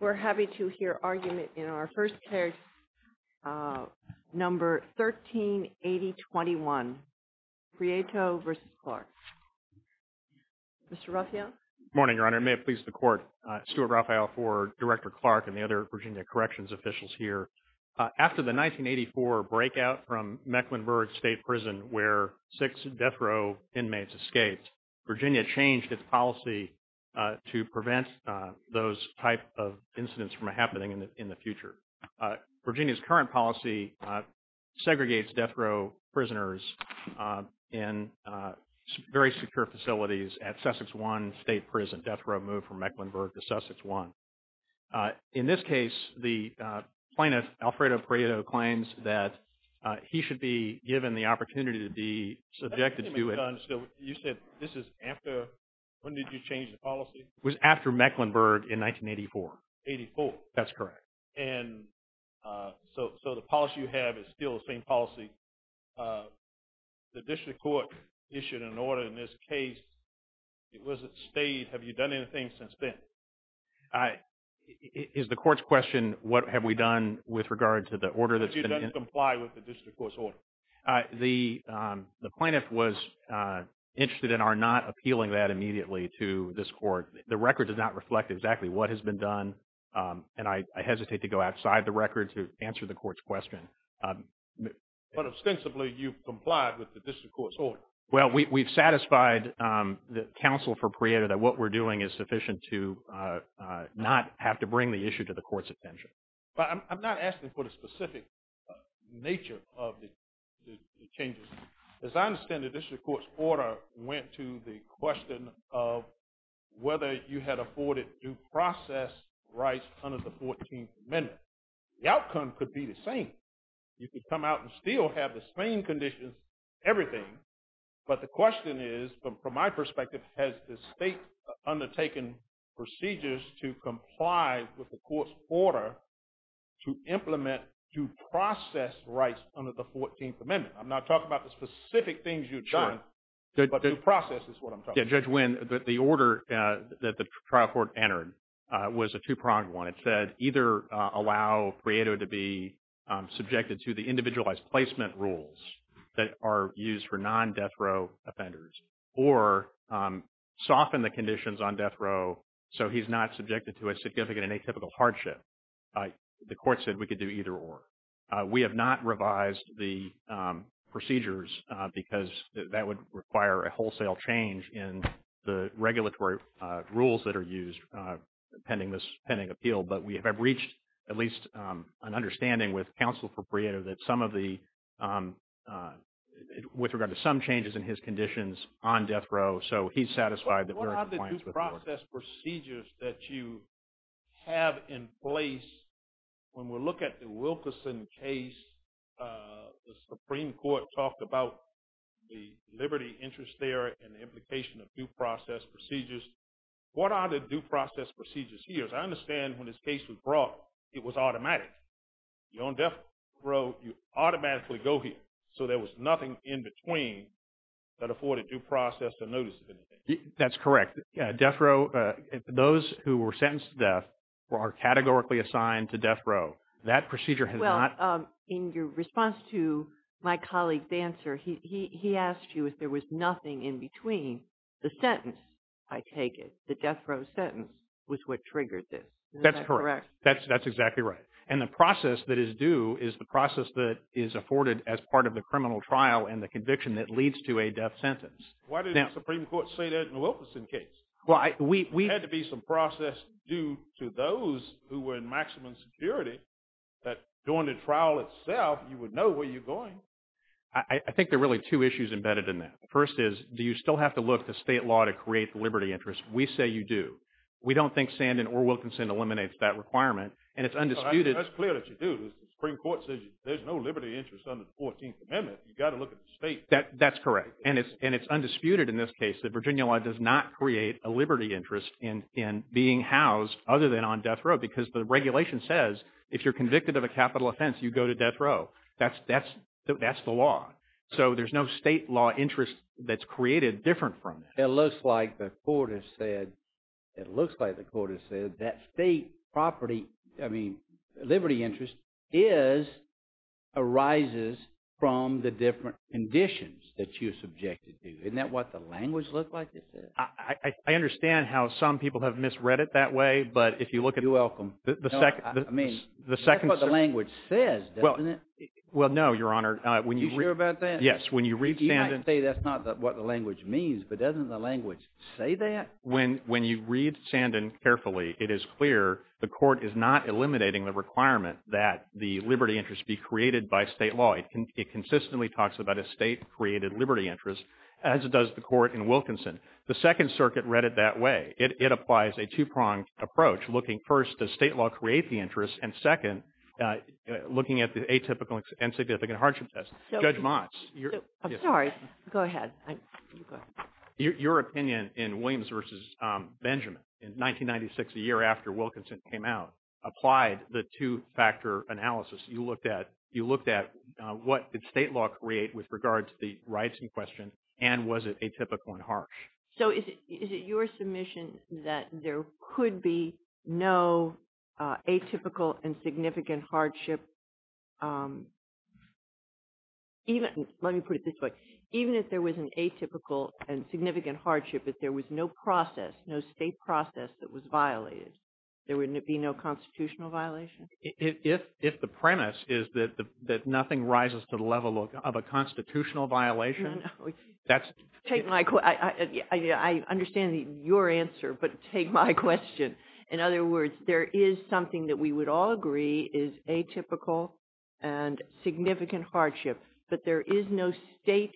We're happy to hear argument in our first case, number 138021, Prieto v. Clarke. Mr. Raphael? Good morning, Your Honor. May it please the Court, Stuart Raphael, for Director Clarke and the other Virginia Corrections officials here. After the 1984 breakout from Mecklenburg State Prison where six death row inmates escaped, Virginia changed its policy to prevent those type of incidents from happening in the future. Virginia's current policy segregates death row prisoners in very secure facilities at Sussex One State Prison, death row move from Mecklenburg to Sussex One. In this case, the plaintiff, Alfredo Prieto, claims that he should be given the opportunity to be subjected to it. Your Honor, so you said this is after – when did you change the policy? It was after Mecklenburg in 1984. 1984. That's correct. And so the policy you have is still the same policy. The district court issued an order in this case. It was a state – have you done anything since then? Is the court's question, what have we done with regard to the order that's been – If you don't comply with the district court's order. The plaintiff was interested in our not appealing that immediately to this court. The record does not reflect exactly what has been done, and I hesitate to go outside the record to answer the court's question. But ostensibly you've complied with the district court's order. Well, we've satisfied the counsel for Prieto that what we're doing is sufficient to not have to bring the issue to the court's attention. But I'm not asking for the specific nature of the changes. As I understand it, the district court's order went to the question of whether you had afforded due process rights under the 14th Amendment. The outcome could be the same. You could come out and still have the same conditions, everything. But the question is, from my perspective, has the state undertaken procedures to comply with the court's order to implement due process rights under the 14th Amendment? I'm not talking about the specific things you've done, but due process is what I'm talking about. Yeah, Judge Winn, the order that the trial court entered was a two-pronged one. It said either allow Prieto to be subjected to the individualized placement rules that are used for non-death row offenders, or soften the conditions on death row so he's not subjected to a significant and atypical hardship. The court said we could do either or. We have not revised the procedures because that would require a wholesale change in the regulatory rules that are used pending appeal. But we have reached at least an understanding with counsel for Prieto that some of the, with regard to some changes in his conditions on death row, so he's satisfied that we're in compliance with the order. The due process procedures that you have in place, when we look at the Wilkerson case, the Supreme Court talked about the liberty interest there and the implication of due process procedures. What are the due process procedures here? As I understand, when this case was brought, it was automatic. You're on death row, you automatically go here. So there was nothing in between that afforded due process the notice of anything. That's correct. Death row, those who were sentenced to death are categorically assigned to death row. That procedure has not... Well, in your response to my colleague's answer, he asked you if there was nothing in between the sentence, I take it, the death row sentence, was what triggered this. Is that correct? That's correct. That's exactly right. And the process that is due is the process that is afforded as part of the criminal trial and the conviction that leads to a death sentence. Why didn't the Supreme Court say that in the Wilkerson case? There had to be some process due to those who were in maximum security that during the trial itself, you would know where you're going. I think there are really two issues embedded in that. First is, do you still have to look at the state law to create the liberty interest? We say you do. We don't think Sandin or Wilkerson eliminates that requirement. And it's undisputed... That's clear that you do. The Supreme Court says there's no liberty interest under the 14th Amendment. You've got to look at the state. That's correct. And it's undisputed in this case that Virginia law does not create a liberty interest in being housed other than on death row because the regulation says if you're convicted of a capital offense, you go to death row. That's the law. So, there's no state law interest that's created different from that. It looks like the court has said that state property, I mean, liberty interest is, arises from the different conditions that you're subjected to. Isn't that what the language looks like? I understand how some people have misread it that way, but if you look at... You're welcome. I mean, that's what the language says, doesn't it? Well, no, Your Honor. You sure about that? Yes. When you read Sandin... You might say that's not what the language means, but doesn't the language say that? When you read Sandin carefully, it is clear the court is not eliminating the requirement that the liberty interest be created by state law. It consistently talks about a state-created liberty interest as it does the court in Wilkinson. The Second Circuit read it that way. It applies a two-pronged approach, looking first, does state law create the interest, and second, looking at the atypical and significant hardship test. Judge Motz... I'm sorry. Go ahead. You go ahead. Your opinion in Williams v. Benjamin in 1996, the year after Wilkinson came out, applied the two-factor analysis. You looked at what did state law create with regard to the rights in question, and was it atypical and harsh? So is it your submission that there could be no atypical and significant hardship, even if... Let me put it this way. Even if there was an atypical and significant hardship, if there was no process, no state process that was violated, there would be no constitutional violation? If the premise is that nothing rises to the level of a constitutional violation, that's... Take my... I understand your answer, but take my question. In other words, there is something that we would all agree is atypical and significant hardship, but there is no state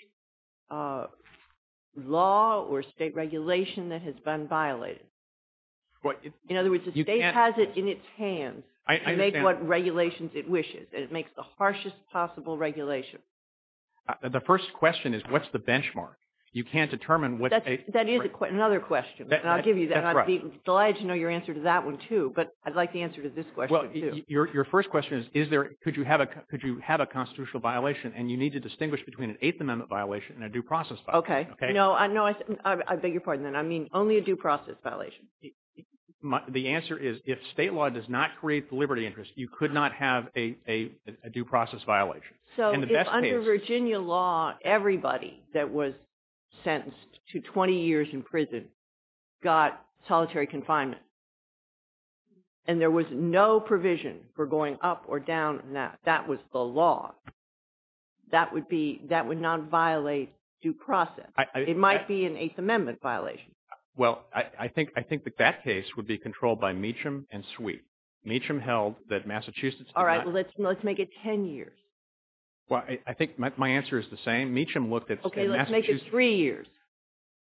law or state regulation that has been violated. In other words, the state has it in its hands. I understand. To make what regulations it wishes, and it makes the harshest possible regulation. The first question is, what's the benchmark? You can't determine what... That is another question, and I'll give you that, and I'd be delighted to know your answer to that one, too, but I'd like the answer to this question, too. Your first question is, could you have a constitutional violation, and you need to distinguish between an Eighth Amendment violation and a due process violation. Okay. No. I beg your pardon, then. I mean only a due process violation. The answer is, if state law does not create the liberty interest, you could not have a due process violation. In the best case... So, if under Virginia law, everybody that was sentenced to 20 years in prison got solitary confinement, and there was no provision for going up or down, and that was the law, that would be... That would not violate due process. It might be an Eighth Amendment violation. Well, I think that that case would be controlled by Meacham and Sweet. Meacham held that Massachusetts did not... All right. Let's make it 10 years. Well, I think my answer is the same. Meacham looked at... Okay. Let's make it three years.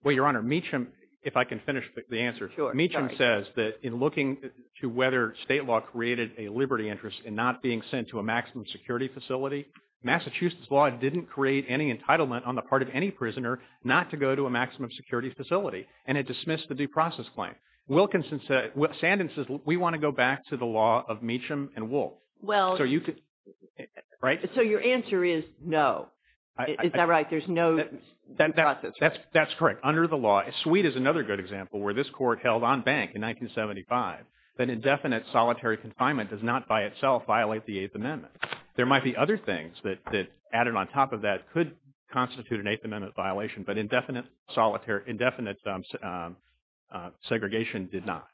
Well, Your Honor, Meacham... If I can finish the answer. Sure. Sorry. Meacham says that in looking to whether state law created a liberty interest in not being sent to a maximum security facility, Massachusetts law didn't create any entitlement on the part of any prisoner not to go to a maximum security facility, and it dismissed the due process claim. Wilkinson said... Sandin says, we want to go back to the law of Meacham and Wolfe. Well... So, you could... Right? So, your answer is no. Is that right? There's no due process? That's correct. Under the law... Sweet is another good example where this court held on bank in 1975 that indefinite solitary confinement does not by itself violate the Eighth Amendment. There might be other things that added on top of that could constitute an Eighth Amendment violation, but indefinite segregation did not.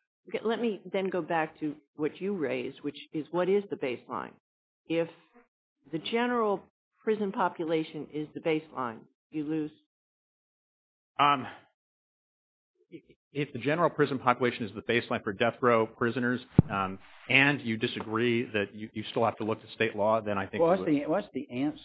Let me then go back to what you raised, which is, what is the baseline? If the general prison population is the baseline, you lose... If the general prison population is the baseline for death row prisoners, and you disagree that you still have to look to state law, then I think... Well, what's the answer?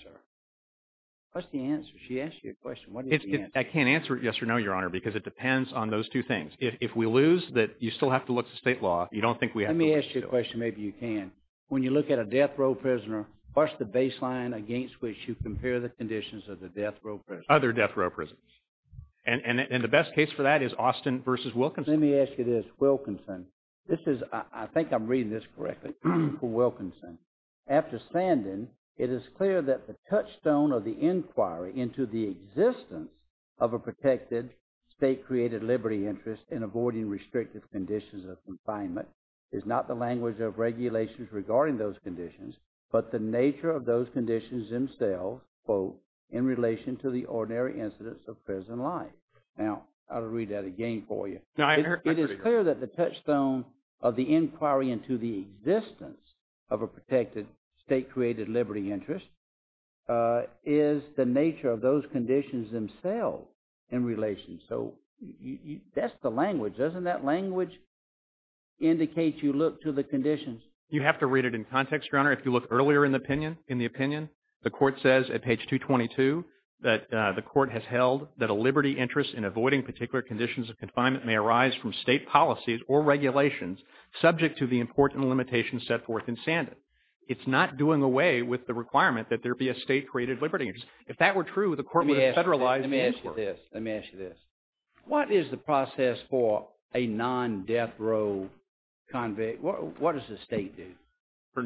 What's the answer? She asked you a question. What is the answer? I can't answer it yes or no, Your Honor, because it depends on those two things. If we lose that you still have to look to state law, you don't think we have to look to state law. Let me ask you a question, maybe you can. When you look at a death row prisoner, what's the baseline against which you compare the conditions of the death row prisoners? Other death row prisoners, and the best case for that is Austin versus Wilkinson. Let me ask you this, Wilkinson. This is... I think I'm reading this correctly for Wilkinson. After standing, it is clear that the touchstone of the inquiry into the existence of a protected state-created liberty interest in avoiding restrictive conditions of confinement is not the language of regulations regarding those conditions, but the nature of those conditions themselves, quote, in relation to the ordinary incidents of prison life. Now, I'll read that again for you. It is clear that the touchstone of the inquiry into the existence of a protected state-created liberty interest is the nature of those conditions themselves in relation. So that's the language. Doesn't that language indicate you look to the conditions? You have to read it in context, Your Honor. If you look earlier in the opinion, the court says at page 222 that the court has held that the liberty interest in avoiding particular conditions of confinement may arise from state policies or regulations subject to the important limitations set forth in Sandan. It's not doing away with the requirement that there be a state-created liberty interest. If that were true, the court would have federalized the inquiry. Let me ask you this. What is the process for a non-death row convict? What does the state do?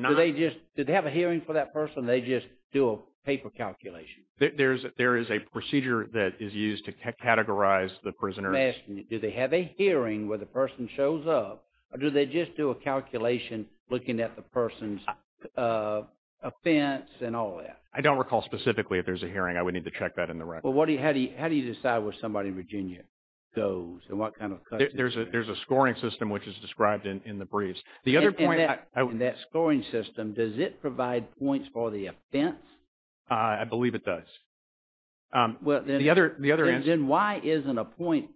Do they just... Do they have a hearing for that person, or do they just do a paper calculation? There is a procedure that is used to categorize the prisoners. I'm asking you, do they have a hearing where the person shows up, or do they just do a calculation looking at the person's offense and all that? I don't recall specifically if there's a hearing. I would need to check that in the record. How do you decide where somebody in Virginia goes, and what kind of... There's a scoring system which is described in the briefs. The other point... In that scoring system, does it provide points for the offense? I believe it does. Well, then... The other answer... Then why isn't a point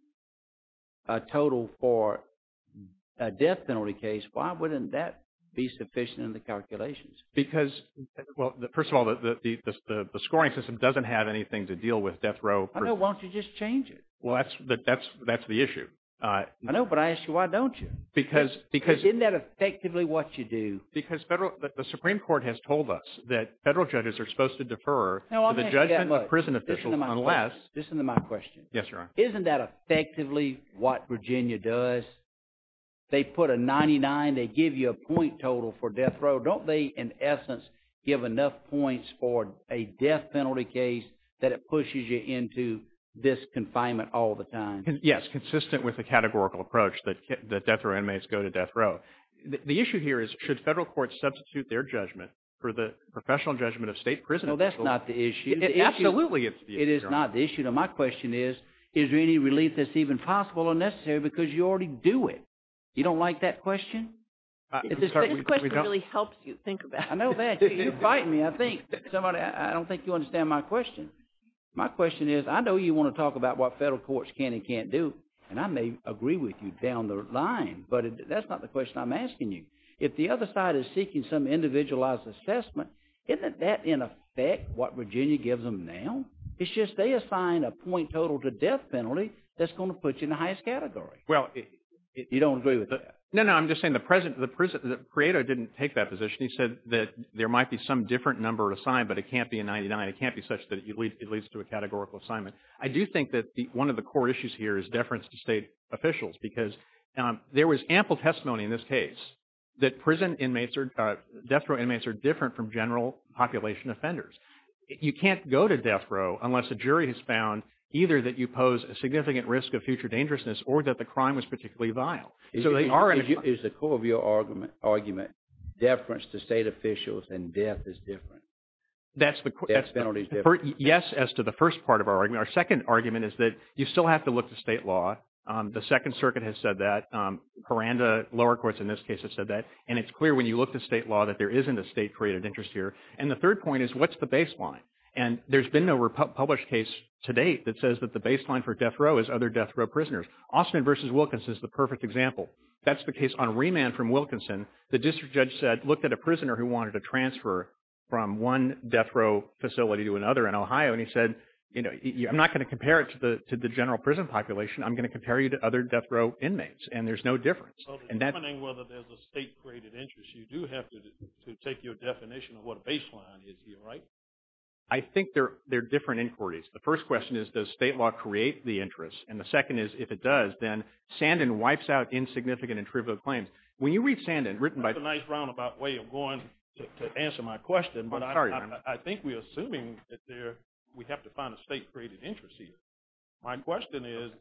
a total for a death penalty case? Why wouldn't that be sufficient in the calculations? Because... Well, first of all, the scoring system doesn't have anything to deal with death row... I know. Why don't you just change it? Well, that's the issue. I know, but I ask you, why don't you? Because... Isn't that effectively what you do? Because the Supreme Court has told us that federal judges are supposed to defer the judgment of prison officials unless... No, I'm not saying that much. Listen to my question. Yes, Your Honor. Isn't that effectively what Virginia does? They put a 99. They give you a point total for death row. Don't they, in essence, give enough points for a death penalty case that it pushes you into this confinement all the time? Yes, consistent with the categorical approach that death row inmates go to death row. The issue here is, should federal courts substitute their judgment for the professional judgment of state prison officials? Well, that's not the issue. Absolutely, it's the issue, Your Honor. It is not the issue. Now, my question is, is there any relief that's even possible or necessary because you already do it? You don't like that question? I'm sorry. We don't... This question really helps you think about it. I know that. You're biting me, I think. Somebody, I don't think you understand my question. My question is, I know you want to talk about what federal courts can and can't do, and I may agree with you down the line, but that's not the question I'm asking you. If the other side is seeking some individualized assessment, isn't that, in effect, what Virginia gives them now? It's just they assign a point total to death penalty that's going to put you in the highest category. Well... You don't agree with that? No, no. I'm just saying the present... The creator didn't take that position. He said that there might be some different number assigned, but it can't be a 99. It can't be such that it leads to a categorical assignment. I do think that one of the core issues here is deference to state officials, because there was ample testimony in this case that prison inmates or death row inmates are different from general population offenders. You can't go to death row unless a jury has found either that you pose a significant risk of future dangerousness or that the crime was particularly vile. So they are... Is the core of your argument deference to state officials and death is different? That's the... Death penalty is different. Yes, as to the first part of our argument. Our second argument is that you still have to look to state law. The Second Circuit has said that. Hiranda lower courts in this case have said that. And it's clear when you look to state law that there isn't a state-created interest here. And the third point is what's the baseline? And there's been no published case to date that says that the baseline for death row is other death row prisoners. Austin v. Wilkinson is the perfect example. That's the case on remand from Wilkinson. The district judge said, looked at a prisoner who wanted a transfer from one death row facility to another in Ohio. And he said, I'm not going to compare it to the general prison population. I'm going to compare you to other death row inmates. And there's no difference. And that... So determining whether there's a state-created interest, you do have to take your definition of what a baseline is here, right? I think they're different inquiries. The first question is, does state law create the interest? And the second is, if it does, then Sandin wipes out insignificant and trivial claims. When you read Sandin, written by... That's a nice roundabout way of going to answer my question, but I think we're assuming that we have to find a state-created interest here. My question is,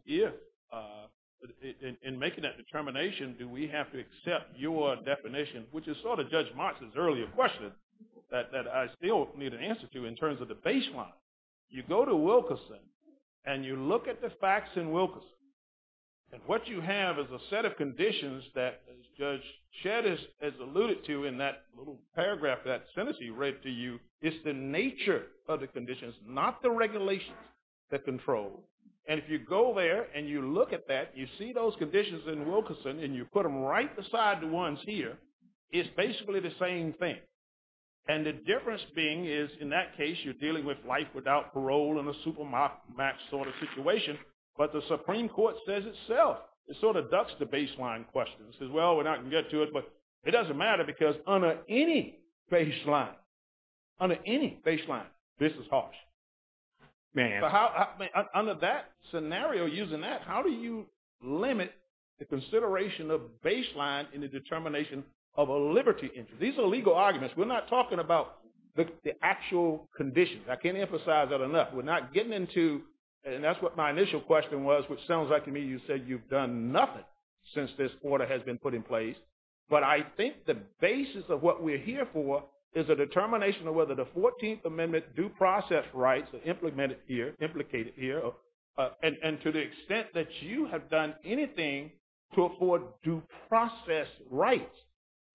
in making that determination, do we have to accept your definition, which is sort of Judge Marx's earlier question, that I still need an answer to in terms of the baseline. You go to Wilkinson, and you look at the facts in Wilkinson, and what you have is a set of conditions that, as Judge Shedd has alluded to in that little paragraph that Senatee read to you, it's the nature of the conditions, not the regulations that control. And if you go there, and you look at that, you see those conditions in Wilkinson, and you put them right beside the ones here, it's basically the same thing. And the difference being is, in that case, you're dealing with life without parole in a super-max sort of situation, but the Supreme Court says itself, it sort of ducks the baseline questions. It says, well, we're not going to get to it, but it doesn't matter, because under any baseline, under any baseline, this is harsh. But under that scenario, using that, how do you limit the consideration of baseline in the determination of a liberty interest? These are legal arguments. We're not talking about the actual conditions. I can't emphasize that enough. We're not getting into, and that's what my initial question was, which sounds like to me, that's where the order has been put in place. But I think the basis of what we're here for is a determination of whether the 14th Amendment due process rights are implemented here, implicated here, and to the extent that you have done anything to afford due process rights,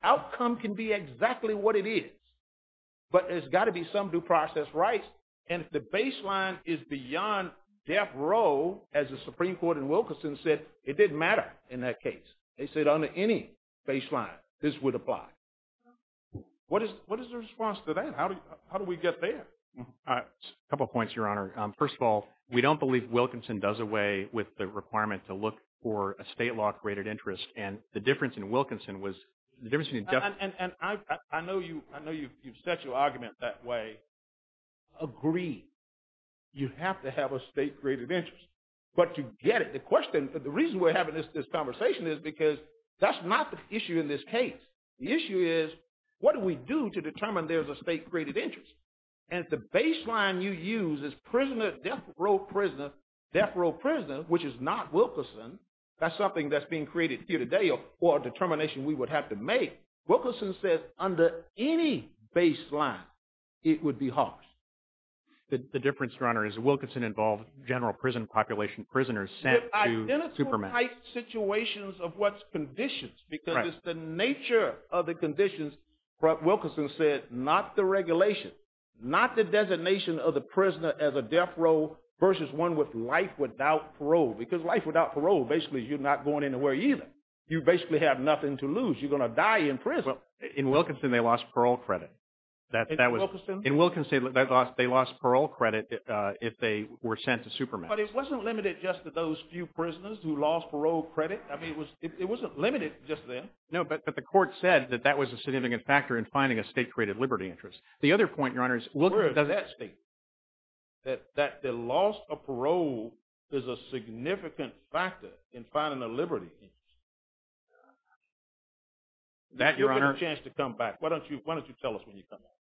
outcome can be exactly what it is. But there's got to be some due process rights. And if the baseline is beyond death row, as the Supreme Court in Wilkinson said, it didn't matter in that case. They said under any baseline, this would apply. What is the response to that? How do we get there? A couple of points, Your Honor. First of all, we don't believe Wilkinson does away with the requirement to look for a state law graded interest. And the difference in Wilkinson was, the difference in death row. And I know you've set your argument that way. Agreed. You have to have a state graded interest. But to get it. The question, the reason we're having this conversation is because that's not the issue in this case. The issue is, what do we do to determine there's a state graded interest? And the baseline you use is prisoner, death row prisoner, death row prisoner, which is not Wilkinson. That's something that's being created here today or a determination we would have to make. Wilkinson says under any baseline, it would be harsh. The difference, Your Honor, is Wilkinson involved general prison population, prisoners sent to Superman. Identical type situations of what's conditions, because it's the nature of the conditions. Wilkinson said, not the regulation, not the designation of the prisoner as a death row versus one with life without parole. Because life without parole, basically you're not going anywhere either. You basically have nothing to lose. You're going to die in prison. In Wilkinson, they lost parole credit. In Wilkinson? In Wilkinson, they lost parole credit if they were sent to Superman. But it wasn't limited just to those few prisoners who lost parole credit. I mean, it wasn't limited just then. No, but the court said that that was a significant factor in finding a state graded liberty interest. The other point, Your Honor, is Wilkinson does that state. That the loss of parole is a significant factor in finding a liberty interest. You'll get a chance to come back. Why don't you tell us when you come back?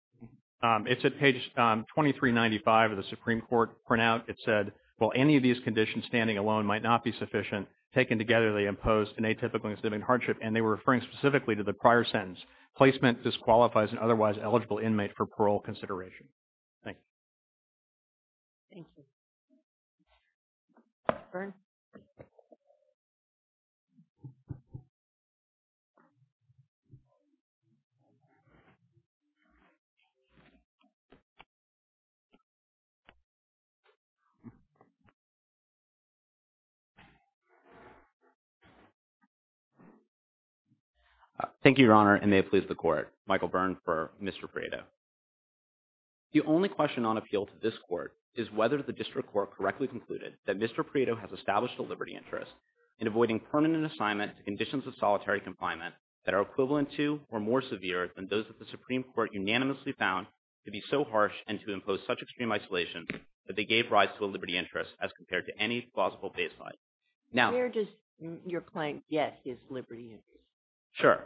It's at page 2395 of the Supreme Court. For now, it said, well, any of these conditions standing alone might not be sufficient. Taken together, they impose an atypical incident of hardship, and they were referring specifically to the prior sentence. Placement disqualifies an otherwise eligible inmate for parole consideration. Thank you. Thank you. Mr. Byrne? Thank you, Your Honor, and may it please the Court, Michael Byrne for Mr. Prieto. The only question on appeal to this Court is whether the district court correctly concluded that Mr. Prieto has established a liberty interest in avoiding permanent assignment to conditions of solitary confinement that are equivalent to or more severe than those that the Supreme Court unanimously found to be so harsh and to impose such extreme isolation that they gave rise to a liberty interest as compared to any plausible baseline. Now— Where does your claim get his liberty interest? Sure.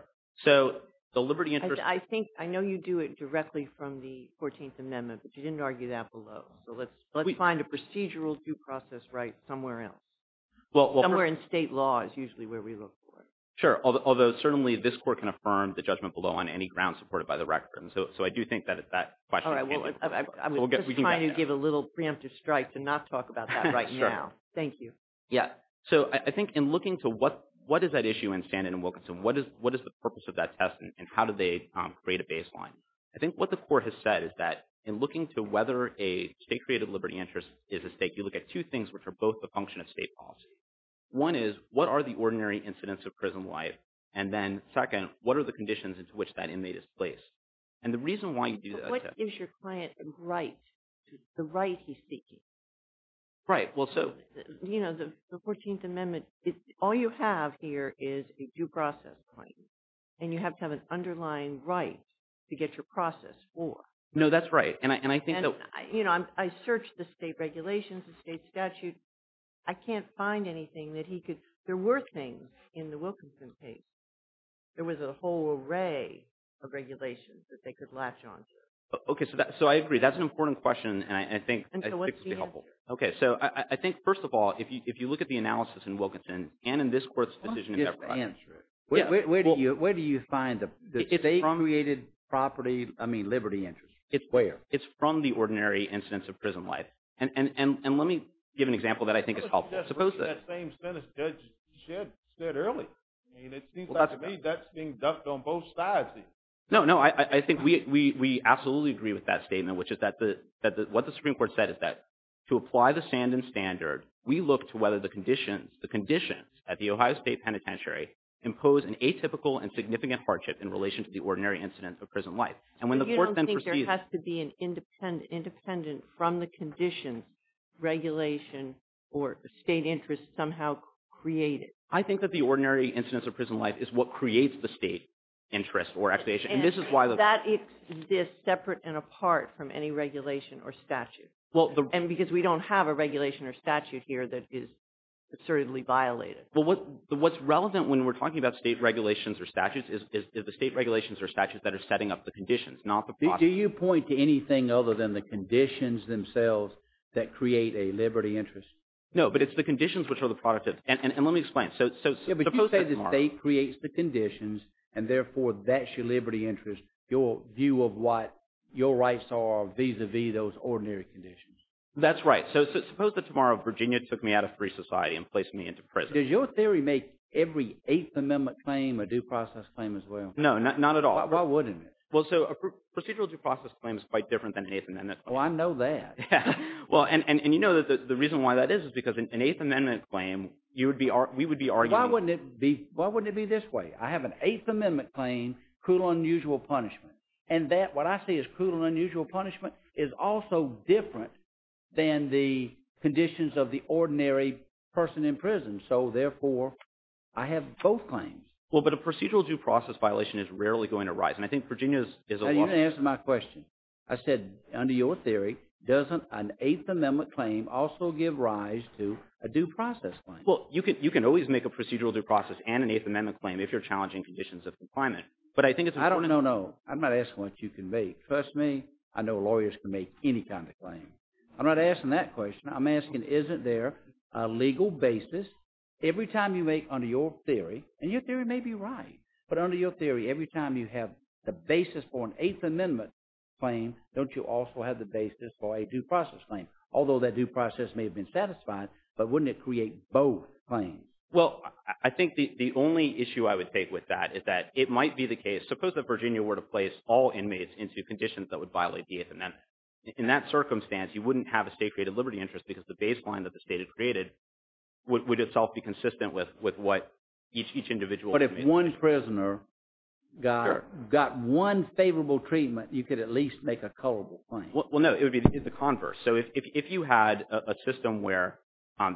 So, the liberty interest— I think, I know you do it directly from the 14th Amendment, but you didn't argue that below. So, let's find a procedural due process right somewhere else, somewhere in state law is usually where we look for it. Sure. Although, certainly, this Court can affirm the judgment below on any grounds supported by the record. So, I do think that it's that question. All right. I'm just trying to give a little preemptive strike to not talk about that right now. Thank you. Yeah. So, I think in looking to what is that issue in Stanton and Wilkinson, what is the purpose of that test, and how did they create a baseline? I think what the Court has said is that in looking to whether a state-created liberty interest is at stake, you look at two things, which are both a function of state policy. One is, what are the ordinary incidents of prison life? And then, second, what are the conditions into which that inmate is placed? And the reason why you do that— So, what gives your client a right, the right he's seeking? Right. Well, so— You know, the 14th Amendment, all you have here is a due process claim, and you have to have an underlying right to get your process forth. No, that's right. And I think that— And, you know, I searched the state regulations, the state statute. I can't find anything that he could— There were things in the Wilkinson case. There was a whole array of regulations that they could latch onto. Okay. So, I agree. That's an important question, and I think— And so, what's the answer? Okay. So, I think, first of all, if you look at the analysis in Wilkinson, and in this Court's decision in February— Just answer it. Where do you find the state-permeated property, I mean, liberty interest? It's where? It's from the ordinary incidence of prison life, and let me give an example that I think is helpful. Suppose that— That's the same sentence Judge Shedd said earlier. I mean, it seems like to me that's being ducked on both sides here. No, no. I think we absolutely agree with that statement, which is that what the Supreme Court said is that to apply the Sandin standard, we look to whether the conditions, the conditions at the Ohio State Penitentiary impose an atypical and significant hardship in relation to the ordinary incidence of prison life. And when the Court then proceeds— So, you don't think there has to be an independent from the conditions, regulation, or state interest somehow created? I think that the ordinary incidence of prison life is what creates the state interest or actuation, and this is why the— That exists separate and apart from any regulation or statute. Well, the— And because we don't have a regulation or statute. Well, what's relevant when we're talking about state regulations or statutes is the state regulations or statutes that are setting up the conditions, not the process. Do you point to anything other than the conditions themselves that create a liberty interest? No, but it's the conditions which are the product of— And let me explain. So, suppose that tomorrow— Yeah, but you say the state creates the conditions, and therefore that's your liberty interest, your view of what your rights are vis-a-vis those ordinary conditions. That's right. So, suppose that tomorrow Virginia took me out of free society and placed me into prison. Does your theory make every Eighth Amendment claim a due process claim as well? No, not at all. Why wouldn't it? Well, so, a procedural due process claim is quite different than an Eighth Amendment claim. Well, I know that. Yeah. Well, and you know that the reason why that is is because an Eighth Amendment claim, you would be— we would be arguing— Why wouldn't it be this way? I have an Eighth Amendment claim, cruel, unusual punishment, and that— what I see as cruel and unusual punishment is also different than the conditions of the ordinary person in prison. And so, therefore, I have both claims. Well, but a procedural due process violation is rarely going to rise, and I think Virginia is a— Now, you didn't answer my question. I said, under your theory, doesn't an Eighth Amendment claim also give rise to a due process claim? Well, you can always make a procedural due process and an Eighth Amendment claim if you're challenging conditions of confinement, but I think it's— I don't know. I'm not asking what you can make. Trust me, I know lawyers can make any kind of claim. I'm not asking that question. I'm asking, isn't there a legal basis every time you make, under your theory— and your theory may be right— but under your theory, every time you have the basis for an Eighth Amendment claim, don't you also have the basis for a due process claim? Although that due process may have been satisfied, but wouldn't it create both claims? Well, I think the only issue I would take with that is that it might be the case— suppose that Virginia were to place all inmates into conditions that would violate the Eighth Amendment. In that circumstance, you wouldn't have a state-created liberty interest because the baseline that the state had created would itself be consistent with what each individual— But if one prisoner got one favorable treatment, you could at least make a culpable claim. Well, no. It would be the converse. So if you had a system where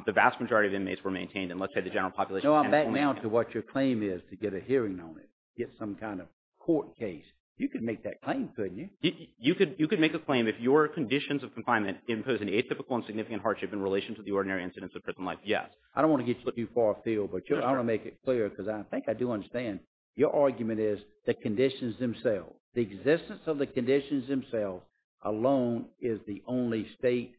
the vast majority of inmates were maintained and let's say the general population— No, I'm backing out to what your claim is to get a hearing on it, get some kind of court case. You could make that claim, couldn't you? You could make a claim if your conditions of confinement impose an atypical and significant hardship in relation to the ordinary incidents of prison life, yes. I don't want to get too far afield, but I want to make it clear because I think I do understand your argument is the conditions themselves, the existence of the conditions themselves alone is the only state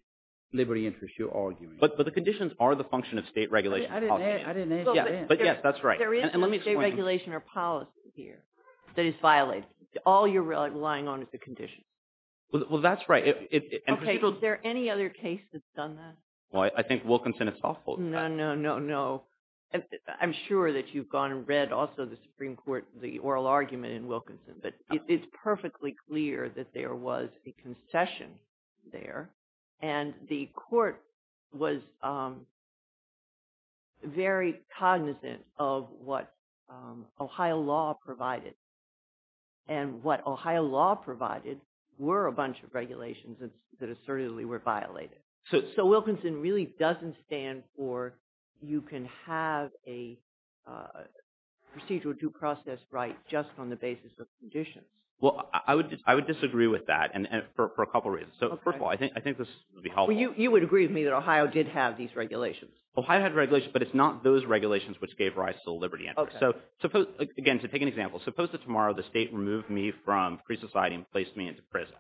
liberty interest you're arguing. But the conditions are the function of state regulation. I didn't add that in. But yes, that's right. There is no state regulation or policy here that is violated. All you're relying on is the conditions. Well, that's right. Okay. Is there any other case that's done that? Well, I think Wilkinson itself holds that. No, no, no, no. I'm sure that you've gone and read also the Supreme Court, the oral argument in Wilkinson, but it's perfectly clear that there was a concession there and the court was very cognizant of what Ohio law provided. And what Ohio law provided were a bunch of regulations that assertively were violated. So Wilkinson really doesn't stand for you can have a procedural due process right just on the basis of conditions. Well, I would disagree with that for a couple reasons. So first of all, I think this would be helpful. You would agree with me that Ohio did have these regulations. Ohio had regulations, but it's not those regulations which gave rise to the liberty interest. Okay. So again, to take an example, suppose that tomorrow the state removed me from free society and placed me into prison.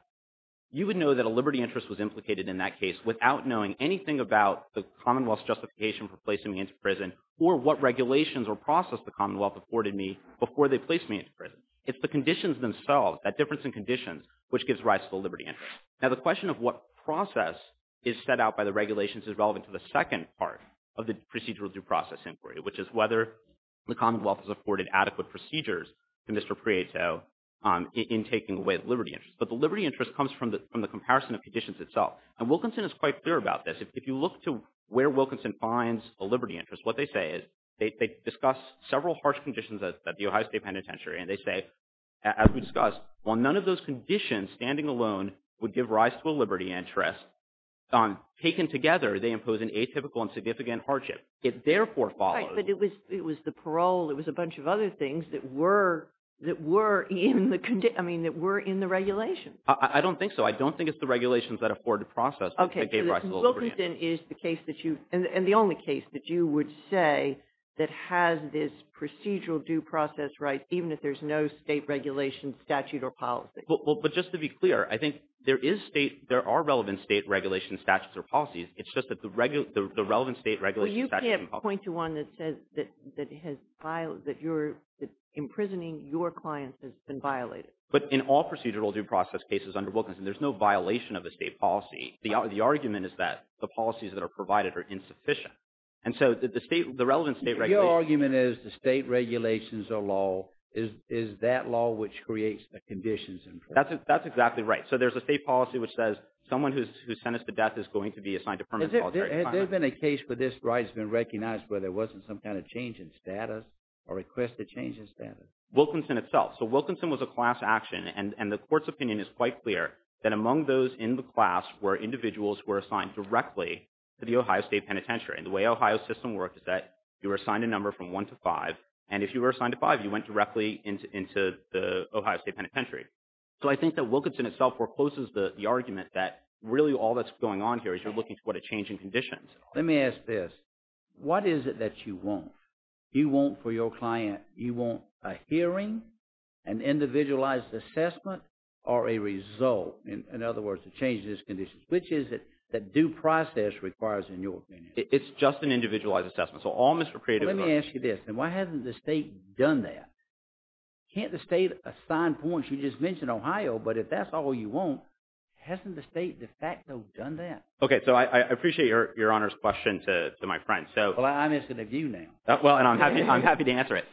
You would know that a liberty interest was implicated in that case without knowing anything about the Commonwealth's justification for placing me into prison or what regulations or process the Commonwealth afforded me before they placed me into prison. It's the conditions themselves, that difference in conditions, which gives rise to the liberty interest. Now, the question of what process is set out by the regulations is relevant to the second part of the procedural due process inquiry, which is whether the Commonwealth has afforded adequate procedures to Mr. Prieto in taking away the liberty interest. But the liberty interest comes from the comparison of conditions itself. And Wilkinson is quite clear about this. If you look to where Wilkinson finds a liberty interest, what they say is they discuss several harsh conditions at the Ohio State Penitentiary, and they say, as we discussed, while none of those conditions standing alone would give rise to a liberty interest, taken together, they impose an atypical and significant hardship. It therefore follows. Right, but it was the parole, it was a bunch of other things that were in the regulations. I don't think so. I don't think it's the regulations that afforded the process that gave rise to the liberty interest. Okay, so Wilkinson is the case that you, and the only case that you would say that has this procedural due process right, even if there's no state regulation, statute, or policy. But just to be clear, I think there are relevant state regulations, statutes, or policies. It's just that the relevant state regulations, statutes, and policies. Well, you can't point to one that says that imprisoning your clients has been violated. But in all procedural due process cases under Wilkinson, there's no violation of the state policy. The argument is that the policies that are provided are insufficient. And so, the relevant state regulations. Your argument is the state regulations are law, is that law which creates the conditions in place. That's exactly right. So, there's a state policy which says someone who's sentenced to death is going to be assigned to permanent solitary confinement. Has there been a case where this right has been recognized where there wasn't some kind of change in status, or requested change in status? Wilkinson itself. So, Wilkinson was a class action, and the court's opinion is quite clear that among those in the class were individuals who were assigned directly to the Ohio State Penitentiary. And the way Ohio's system worked is that you were assigned a number from one to five, and if you were assigned to five, you went directly into the Ohio State Penitentiary. So, I think that Wilkinson itself forecloses the argument that really all that's going on here is you're looking for a change in conditions. Let me ask this. What is it that you want? You want for your client, you want a hearing, an individualized assessment, or a result? In other words, a change in these conditions. Which is it that due process requires in your opinion? It's just an individualized assessment. So, all Mr. Creative… Let me ask you this. Why hasn't the state done that? Can't the state assign points? You just mentioned Ohio, but if that's all you want, hasn't the state de facto done that? Okay. So, I appreciate Your Honor's question to my friend. Well, I'm interested in you now. Well, and I'm happy to answer it.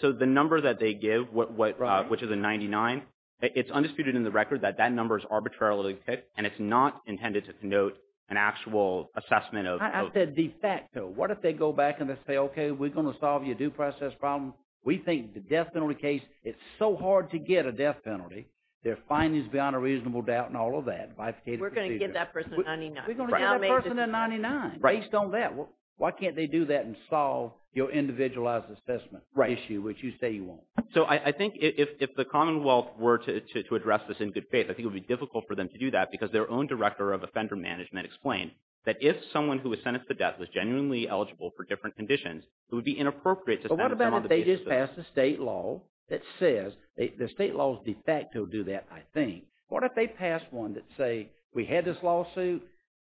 So, the number that they give, which is a 99, it's undisputed in the record that that number is arbitrarily picked, and it's not intended to denote an actual assessment of… I said de facto. What if they go back and they say, okay, we're going to solve your due process problem. We think the death penalty case, it's so hard to get a death penalty. They're findings beyond a reasonable doubt and all of that. We're going to give that person a 99. We're going to give that person a 99. Based on that, why can't they do that and solve your individualized assessment issue, which you say you want? So, I think if the Commonwealth were to address this in good faith, I think it would be difficult for them to do that because their own director of offender management explained that if someone who was sentenced to death was genuinely eligible for different conditions, it would be inappropriate to send someone to jail. But what about if they just pass a state law that says, the state laws de facto do that, I think. What if they pass one that say, we had this lawsuit,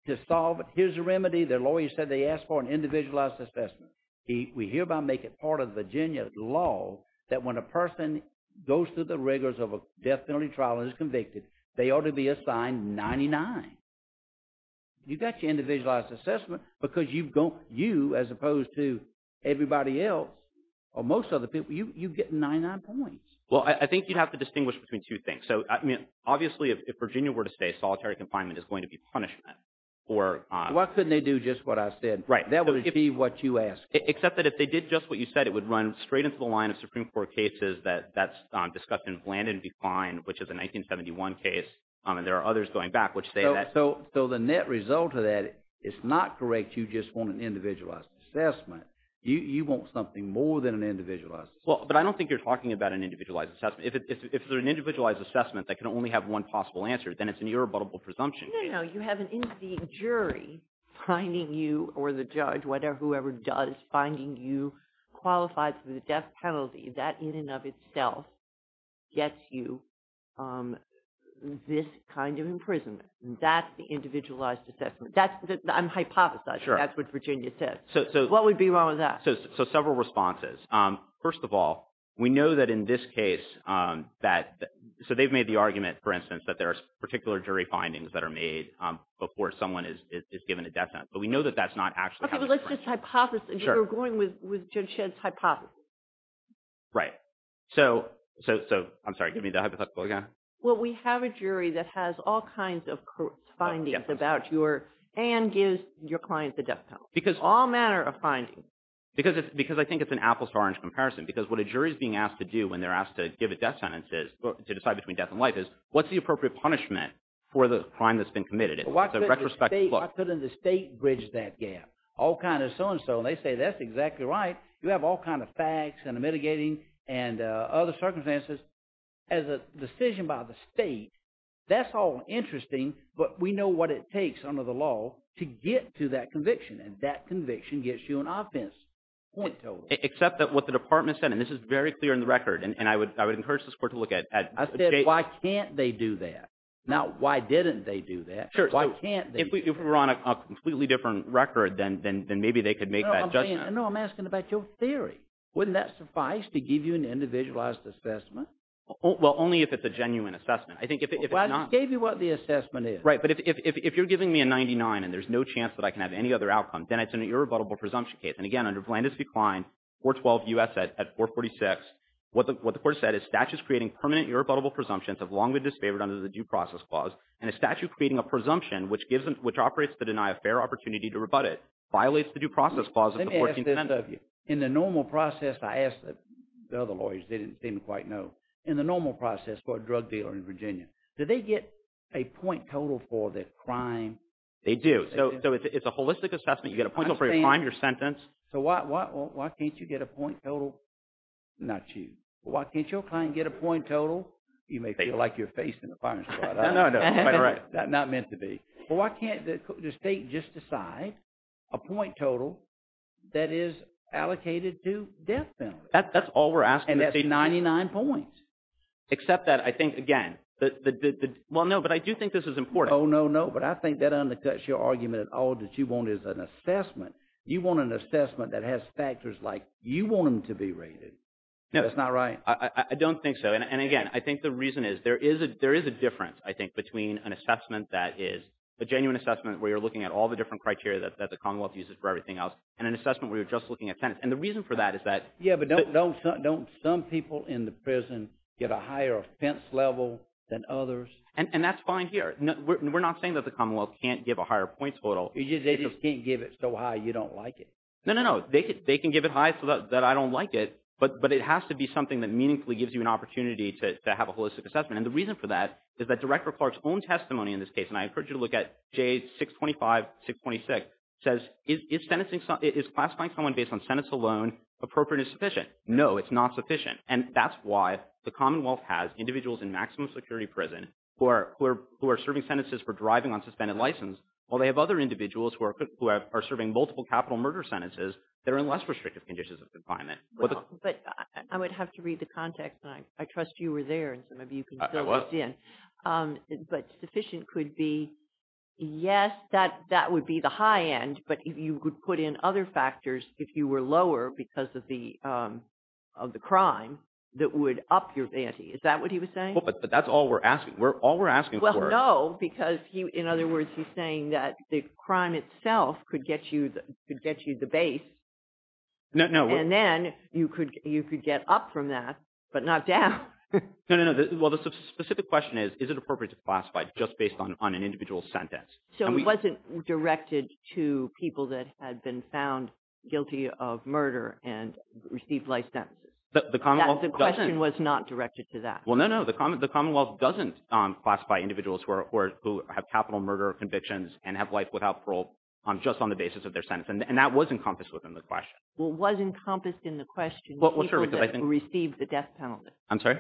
to solve it, here's the remedy, their lawyer said they asked for an individualized assessment. We hereby make it part of Virginia law that when a person goes through the rigors of a death penalty trial and is convicted, they ought to be assigned 99. You got your individualized assessment because you, as opposed to everybody else, or most other people, you get 99 points. Well, I think you have to distinguish between two things. So, I mean, obviously, if Virginia were to say, solitary confinement is going to be punishment for... Why couldn't they do just what I said? Right. That would be what you asked for. Except that if they did just what you said, it would run straight into the line of Supreme Court cases that's discussed in Blandon v. Klein, which is a 1971 case, and there are others going back, which say that... So, the net result of that is not correct, you just want an individualized assessment. You want something more than an individualized assessment. Well, but I don't think you're talking about an individualized assessment. If they're an individualized assessment that can only have one possible answer, then it's an irrebuttable presumption. No, no, no. You have an in-seeing jury finding you, or the judge, whatever, whoever does, finding you qualified for the death penalty, that, in and of itself, gets you this kind of imprisonment. That's the individualized assessment. I'm hypothesizing. Sure. That's what Virginia said. So... What would be wrong with that? So, several responses. First of all, we know that in this case, that... So, they've made the argument, for instance, that there are particular jury findings that are made before someone is given a death sentence, but we know that that's not actually happening. Okay, but let's just hypothesize. Sure. And you're going with Judge Shedd's hypothesis. Right. So... I'm sorry, give me the hypothetical again. Well, we have a jury that has all kinds of findings about your... and gives your client the death penalty. Because... All manner of findings. Because I think it's an apple-to-orange comparison, because what a jury's being asked to do when they're asked to give a death sentence is, to decide between death and life, is what's the appropriate punishment for the crime that's been committed? It's a retrospective look. Why couldn't the state bridge that gap? All kind of so-and-so, and they say, that's exactly right. You have all kind of facts and mitigating and other circumstances. As a decision by the state, that's all interesting, but we know what it takes under the law to get to that conviction, and that conviction gets you an offense point total. Except that what the department said, and this is very clear in the record, and I would encourage the court to look at... I said, why can't they do that? Sure. Why can't they? If we were on a completely different record, then maybe they could make that judgment. No, I'm asking about your theory. Wouldn't that suffice to give you an individualized assessment? Well, only if it's a genuine assessment. I think if it's not... Well, I just gave you what the assessment is. Right, but if you're giving me a 99, and there's no chance that I can have any other outcome, then it's an irrebuttable presumption case. And again, under Vlandis' decline, 412 U.S. at 446, what the court said is, statutes creating permanent irrebuttable presumptions have long been disfavored under the Due Process Clause, and a statute creating a presumption, which operates to deny a fair opportunity to rebut it, violates the Due Process Clause of the 14th Amendment. In the normal process, I asked the other lawyers, they didn't quite know. In the normal process for a drug dealer in Virginia, do they get a point total for their crime? They do. So it's a holistic assessment. You get a point total for your crime, your sentence. So why can't you get a point total? Not you. Why can't your client get a point total? You may feel like you're facing the firing squad. No, no, quite right. Not meant to be. But why can't the state just decide a point total that is allocated to death penalties? That's all we're asking the state. And that's 99 points. Except that I think, again, the – well, no, but I do think this is important. Oh, no, no, but I think that undercuts your argument that all that you want is an assessment. You want an assessment that has factors like you want them to be rated. No. That's not right? I don't think so. And again, I think the reason is there is a difference, I think, between an assessment that is a genuine assessment where you're looking at all the different criteria that the Commonwealth uses for everything else and an assessment where you're just looking at sentence. And the reason for that is that – Yeah, but don't some people in the prison get a higher offense level than others? And that's fine here. We're not saying that the Commonwealth can't give a higher point total. They just can't give it so high you don't like it? No, no, no. They can give it high so that I don't like it. But it has to be something that meaningfully gives you an opportunity to have a holistic assessment. And the reason for that is that Director Clark's own testimony in this case, and I encourage you to look at J625, 626, says, is classifying someone based on sentence alone appropriate and sufficient? No, it's not sufficient. And that's why the Commonwealth has individuals in maximum security prison who are serving sentences for driving on suspended license while they have other individuals who are serving multiple capital murder sentences that are in less restrictive conditions of confinement. But I would have to read the context. I trust you were there and some of you can fill this in. I was. But sufficient could be, yes, that would be the high end, but you could put in other factors if you were lower because of the crime that would up your ante. Is that what he was saying? Well, but that's all we're asking. All we're asking for – Well, no, because in other words, he's saying that the crime itself could get you the base. No, no. And then you could get up from that, but not down. No, no, no. Well, the specific question is, is it appropriate to classify just based on an individual's sentence? So it wasn't directed to people that had been found guilty of murder and received life sentences. The Commonwealth doesn't – The question was not directed to that. Well, no, no. The Commonwealth doesn't classify individuals who have capital murder convictions and have life without parole just on the basis of their sentence, and that was encompassed within the question. Well, was encompassed in the question people that received the death penalty. I'm sorry?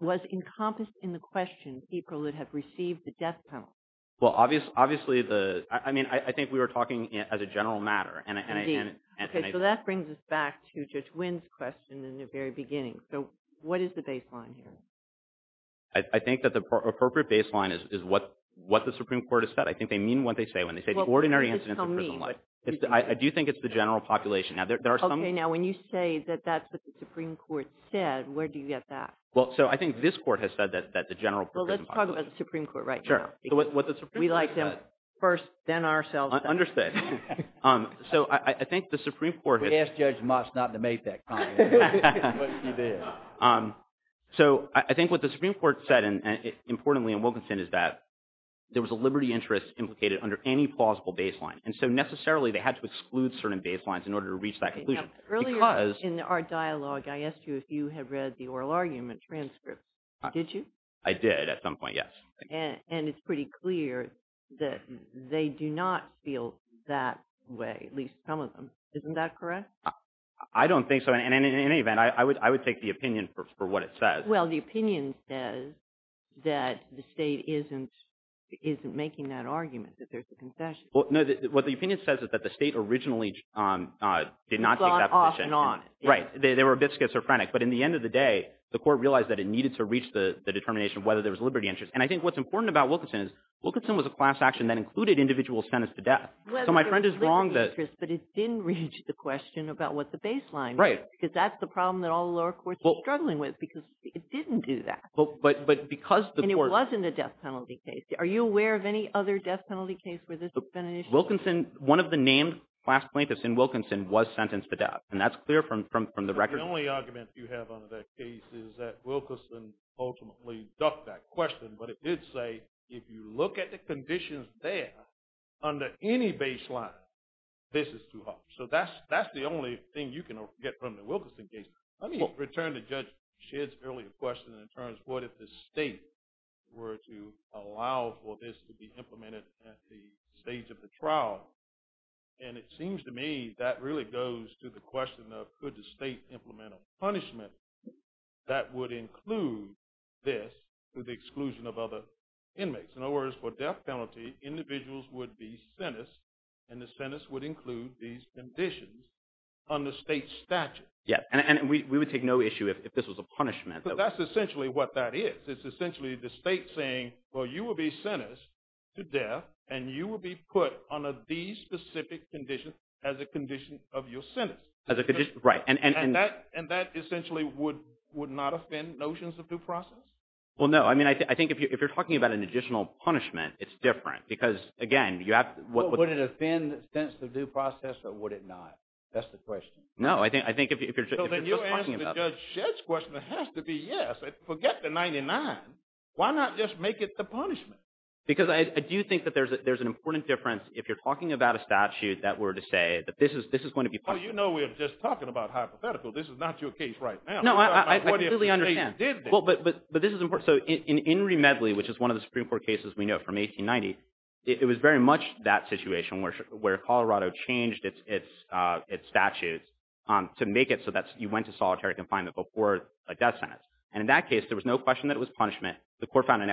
Was encompassed in the question people that have received the death penalty. Well, obviously the – I mean, I think we were talking as a general matter, and I – Indeed. Okay, so that brings us back to Judge Wynn's question in the very beginning. So what is the baseline here? I think that the appropriate baseline is what the Supreme Court has said. I think they mean what they say when they say the ordinary incidents of prison life. Well, tell me. I do think it's the general population. Okay, now when you say that that's what the Supreme Court said, where do you get that? Well, so I think this Court has said that the general prison population – Well, let's talk about the Supreme Court right now. Sure. We like them first, then ourselves. Understood. So I think the Supreme Court – We asked Judge Moss not to make that comment. But he did. So I think what the Supreme Court said, and importantly in Wilkinson, is that there was a liberty interest implicated under any plausible baseline, and so necessarily they had to exclude certain baselines in order to reach that conclusion. Earlier in our dialogue, I asked you if you had read the oral argument transcript. Did you? I did at some point, yes. And it's pretty clear that they do not feel that way, at least some of them. Isn't that correct? I don't think so. And in any event, I would take the opinion for what it says. Well, the opinion says that the state isn't making that argument, that there's a concession. What the opinion says is that the state originally did not take that position. It's gone off and on. Right. They were a bit schizophrenic. But in the end of the day, the court realized that it needed to reach the determination of whether there was liberty interest. And I think what's important about Wilkinson is Wilkinson was a class action that included individual sentence to death. So my friend is wrong that – Whether there was liberty interest, but it didn't reach the question about what the baseline was. Right. Because that's the problem that all the lower courts are struggling with, because it didn't do that. But because the court – And it wasn't a death penalty case. Are you aware of any other death penalty case where this has been an issue? Wilkinson – one of the named class plaintiffs in Wilkinson was sentenced to death. And that's clear from the record. The only argument you have on that case is that Wilkinson ultimately ducked that question. But it did say, if you look at the conditions there, under any baseline, this is too harsh. So that's the only thing you can get from the Wilkinson case. Let me return to Judge Shedd's earlier question in terms of what if the state were to allow for this to be implemented at the stage of the trial. And it seems to me that really goes to the question of, could the state implement a punishment that would include this with the exclusion of other inmates? In other words, for death penalty, individuals would be sentenced, and the sentence would include these conditions under state statute. And we would take no issue if this was a punishment. But that's essentially what that is. It's essentially the state saying, well, you will be sentenced to death, and you will be put under these specific conditions as a condition of your sentence. As a condition – right. And that essentially would not offend notions of due process? Well, no. I mean, I think if you're talking about an additional punishment, it's different. Because, again, you have to – Would it offend sentence of due process, or would it not? That's the question. No, I think if you're just talking about – Well, then you answer Judge Shedd's question. It has to be yes. Forget the 99. Why not just make it the punishment? Because I do think that there's an important difference if you're talking about a statute that were to say that this is going to be – Oh, you know we're just talking about hypothetical. This is not your case right now. No, I clearly understand. What if the state did this? Well, but this is important. So in Enri Medley, which is one of the Supreme Court cases we know from 1890, it was very much that situation where Colorado changed its statute to make it so that you went to solitary confinement before a death sentence. And in that case, there was no question that it was punishment. The court found an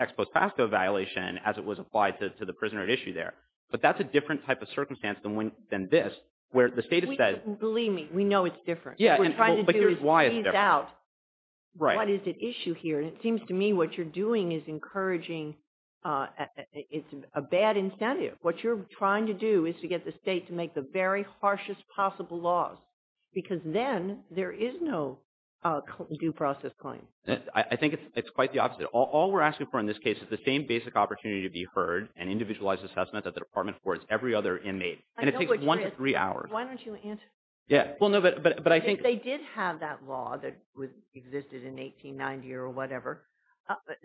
ex post facto violation as it was applied to the prisoner at issue there. But that's a different type of circumstance than this, where the state has said – Believe me, we know it's different. What we're trying to do is tease out what is at issue here. And it seems to me what you're doing is encouraging – it's a bad incentive. What you're trying to do is to get the state to make the very harshest possible laws. Because then there is no due process claim. I think it's quite the opposite. All we're asking for in this case is the same basic opportunity to be heard and individualized assessment that the department affords every other inmate. And it takes one to three hours. Why don't you answer? Yeah. Well, no, but I think – I don't think it would have existed in 1890 or whatever.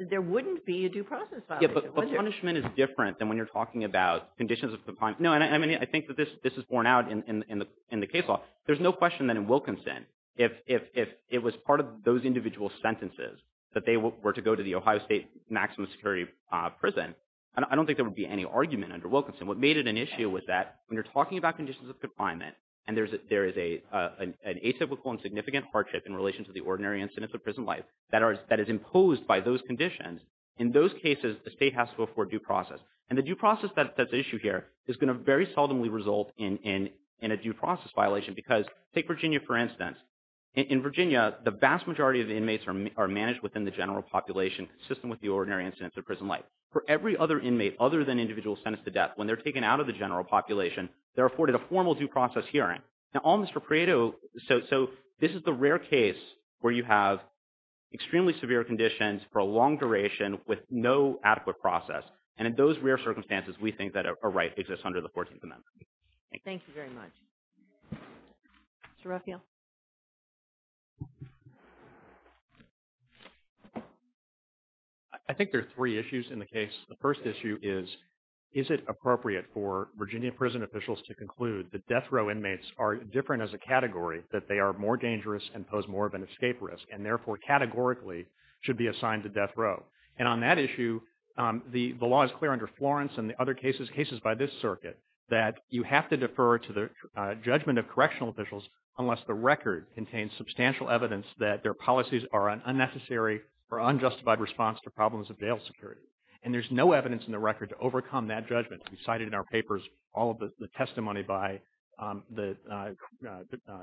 There wouldn't be a due process violation, would there? Yeah, but punishment is different than when you're talking about conditions of confinement. No, and I think that this is borne out in the case law. There's no question that in Wilkinson, if it was part of those individual sentences that they were to go to the Ohio State maximum security prison, I don't think there would be any argument under Wilkinson. And there is an atypical and significant hardship in relation to the ordinary incidence of prison life that is imposed by those conditions. In those cases, the state has to afford due process. And the due process that's at issue here is going to very seldomly result in a due process violation. Because take Virginia, for instance. In Virginia, the vast majority of inmates are managed within the general population consistent with the ordinary incidence of prison life. For every other inmate other than individual sentenced to death, when they're taken out of the general population, they're afforded a formal due process hearing. Now almost for credo, so this is the rare case where you have extremely severe conditions for a long duration with no adequate process. And in those rare circumstances, we think that a right exists under the 14th Amendment. Thank you very much. Mr. Ruffio? I think there are three issues in the case. The first issue is, is it appropriate for Virginia prison officials to conclude that death row inmates are different as a category, that they are more dangerous and pose more of an escape risk, and therefore categorically should be assigned to death row? And on that issue, the law is clear under Florence and the other cases, cases by this circuit, that you have to defer to the judgment of correctional officials unless the record contains substantial evidence that their policies are an unnecessary or unjustified response to problems of jail security. And there's no evidence in the record to overcome that judgment. We cited in our papers all of the testimony by the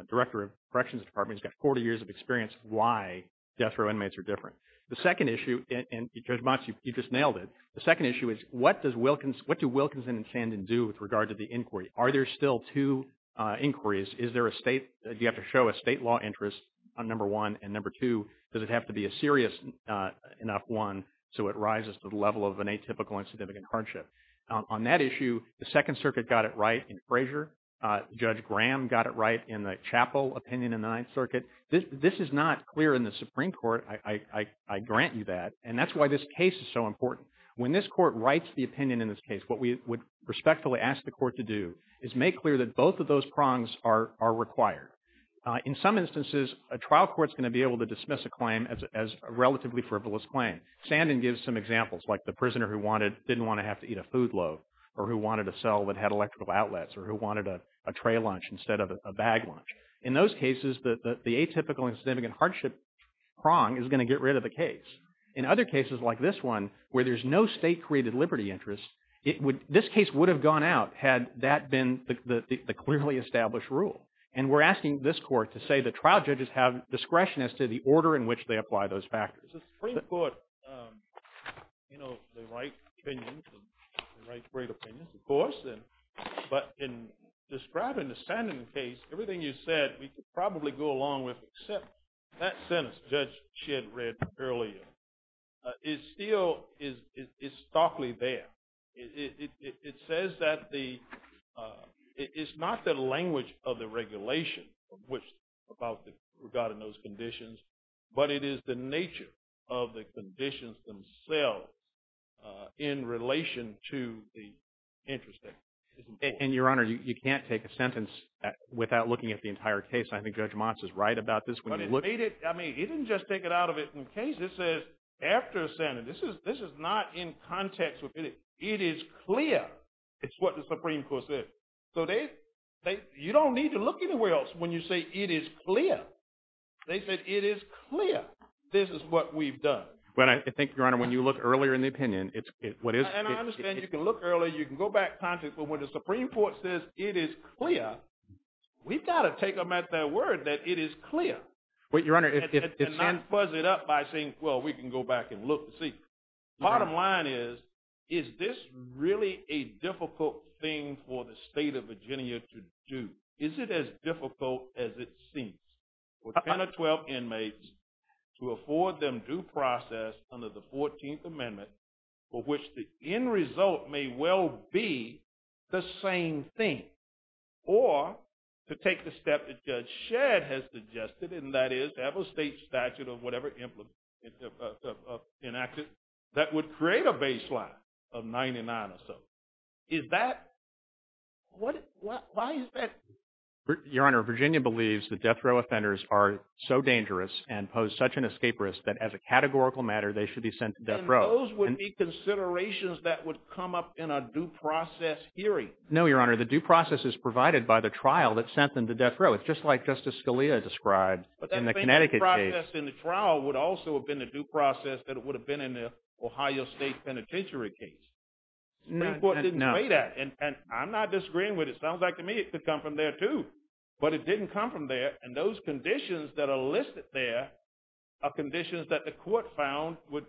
Director of Corrections Department. He's got 40 years of experience of why death row inmates are different. The second issue, and Judge Motz, you just nailed it. The second issue is, what do Wilkinson and Sandin do with regard to the inquiry? Are there still two inquiries? Do you have to show a state law interest on number one? And number two, does it have to be a serious enough one so it rises to the level of an atypical and significant hardship? On that issue, the Second Circuit got it right in Frazier. Judge Graham got it right in the Chappell opinion in the Ninth Circuit. This is not clear in the Supreme Court. I grant you that. And that's why this case is so important. When this court writes the opinion in this case, what we would respectfully ask the court to do is make clear that both of those prongs are required. In some instances, a trial court is going to be able to dismiss a claim as a relatively frivolous claim. Sandin gives some examples, like the prisoner who didn't want to have to eat a food loaf or who wanted a cell that had electrical outlets or who wanted a tray lunch instead of a bag lunch. In those cases, the atypical and significant hardship prong is going to get rid of the case. In other cases like this one, where there's no state-created liberty interest, this case would have gone out had that been the clearly established rule. And we're asking this court to say that trial judges have discretion as to the order in which they apply those factors. The Supreme Court, you know, they write opinions. They write great opinions, of course. But in describing the Sandin case, everything you said we could probably go along with except that sentence Judge Shedd read earlier is still starkly there. It says that it's not the language of the regulation regarding those conditions, but it is the nature of the conditions themselves in relation to the interest. And, Your Honor, you can't take a sentence without looking at the entire case. I think Judge Motz is right about this. I mean, he didn't just take it out of the case. It says after a sentence. This is not in context with it. It is clear. It's what the Supreme Court said. So you don't need to look anywhere else when you say it is clear. They said it is clear. This is what we've done. But I think, Your Honor, when you look earlier in the opinion, it's what is clear. And I understand you can look earlier, you can go back in context, but when the Supreme Court says it is clear, we've got to take them at their word that it is clear. And not fuzz it up by saying, well, we can go back and look and see. Bottom line is, is this really a difficult thing for the State of Virginia to do? Is it as difficult as it seems for 10 or 12 inmates to afford them due process under the 14th Amendment for which the end result may well be the same thing, or to take the step that Judge Shadd has suggested, and that is to have a State statute of whatever enacted that would create a baseline of 99 or so. Is that – why is that? Your Honor, Virginia believes that death row offenders are so dangerous and pose such an escape risk that as a categorical matter, they should be sent to death row. And those would be considerations that would come up in a due process hearing. No, Your Honor, the due process is provided by the trial that sent them to death row. It's just like Justice Scalia described in the Connecticut case. But that same process in the trial would also have been the due process that it would have been in the Ohio State Penitentiary case. No. The Supreme Court didn't say that. And I'm not disagreeing with it. It sounds like to me it could come from there too. But it didn't come from there. And those conditions that are listed there are conditions that the court found would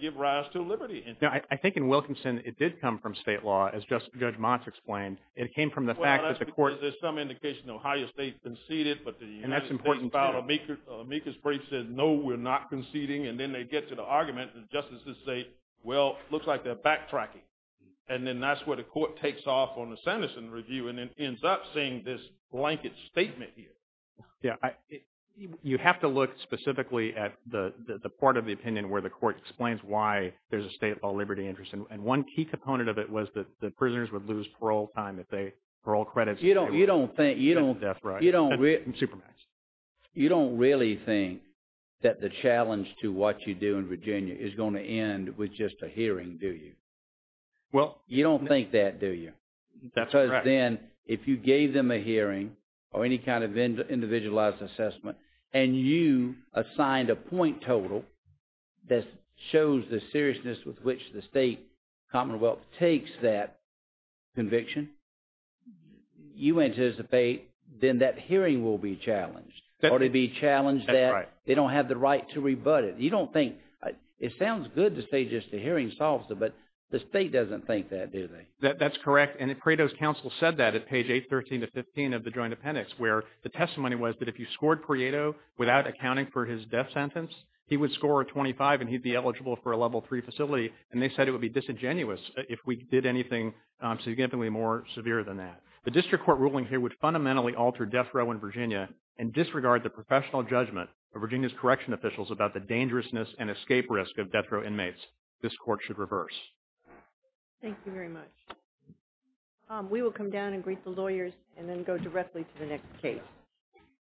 give rise to liberty. Now, I think in Wilkinson it did come from state law, as Judge Motz explained. It came from the fact that the court – Well, there's some indication the Ohio State conceded, but the United States – And that's important too. Amicus brief said, no, we're not conceding. And then they get to the argument and the justices say, well, it looks like they're backtracking. And then that's where the court takes off on the sentencing review and then ends up seeing this blanket statement here. You have to look specifically at the part of the opinion where the court explains why there's a state law liberty interest. And one key component of it was that the prisoners would lose parole time if they – parole credits. You don't think – That's right. Supermax. You don't really think that the challenge to what you do in Virginia is going to end with just a hearing, do you? Well – You don't think that, do you? That's correct. But then if you gave them a hearing or any kind of individualized assessment and you assigned a point total that shows the seriousness with which the state commonwealth takes that conviction, you anticipate then that hearing will be challenged. Or they'd be challenged that they don't have the right to rebut it. You don't think – it sounds good to say just a hearing solves it, but the state doesn't think that, do they? That's correct. And Prieto's counsel said that at page 813-15 of the Joint Appendix, where the testimony was that if you scored Prieto without accounting for his death sentence, he would score a 25 and he'd be eligible for a Level III facility. And they said it would be disingenuous if we did anything significantly more severe than that. The district court ruling here would fundamentally alter death row in Virginia and disregard the professional judgment of Virginia's correction officials about the dangerousness and escape risk of death row inmates. This court should reverse. Thank you very much. We will come down and greet the lawyers and then go directly to the next case.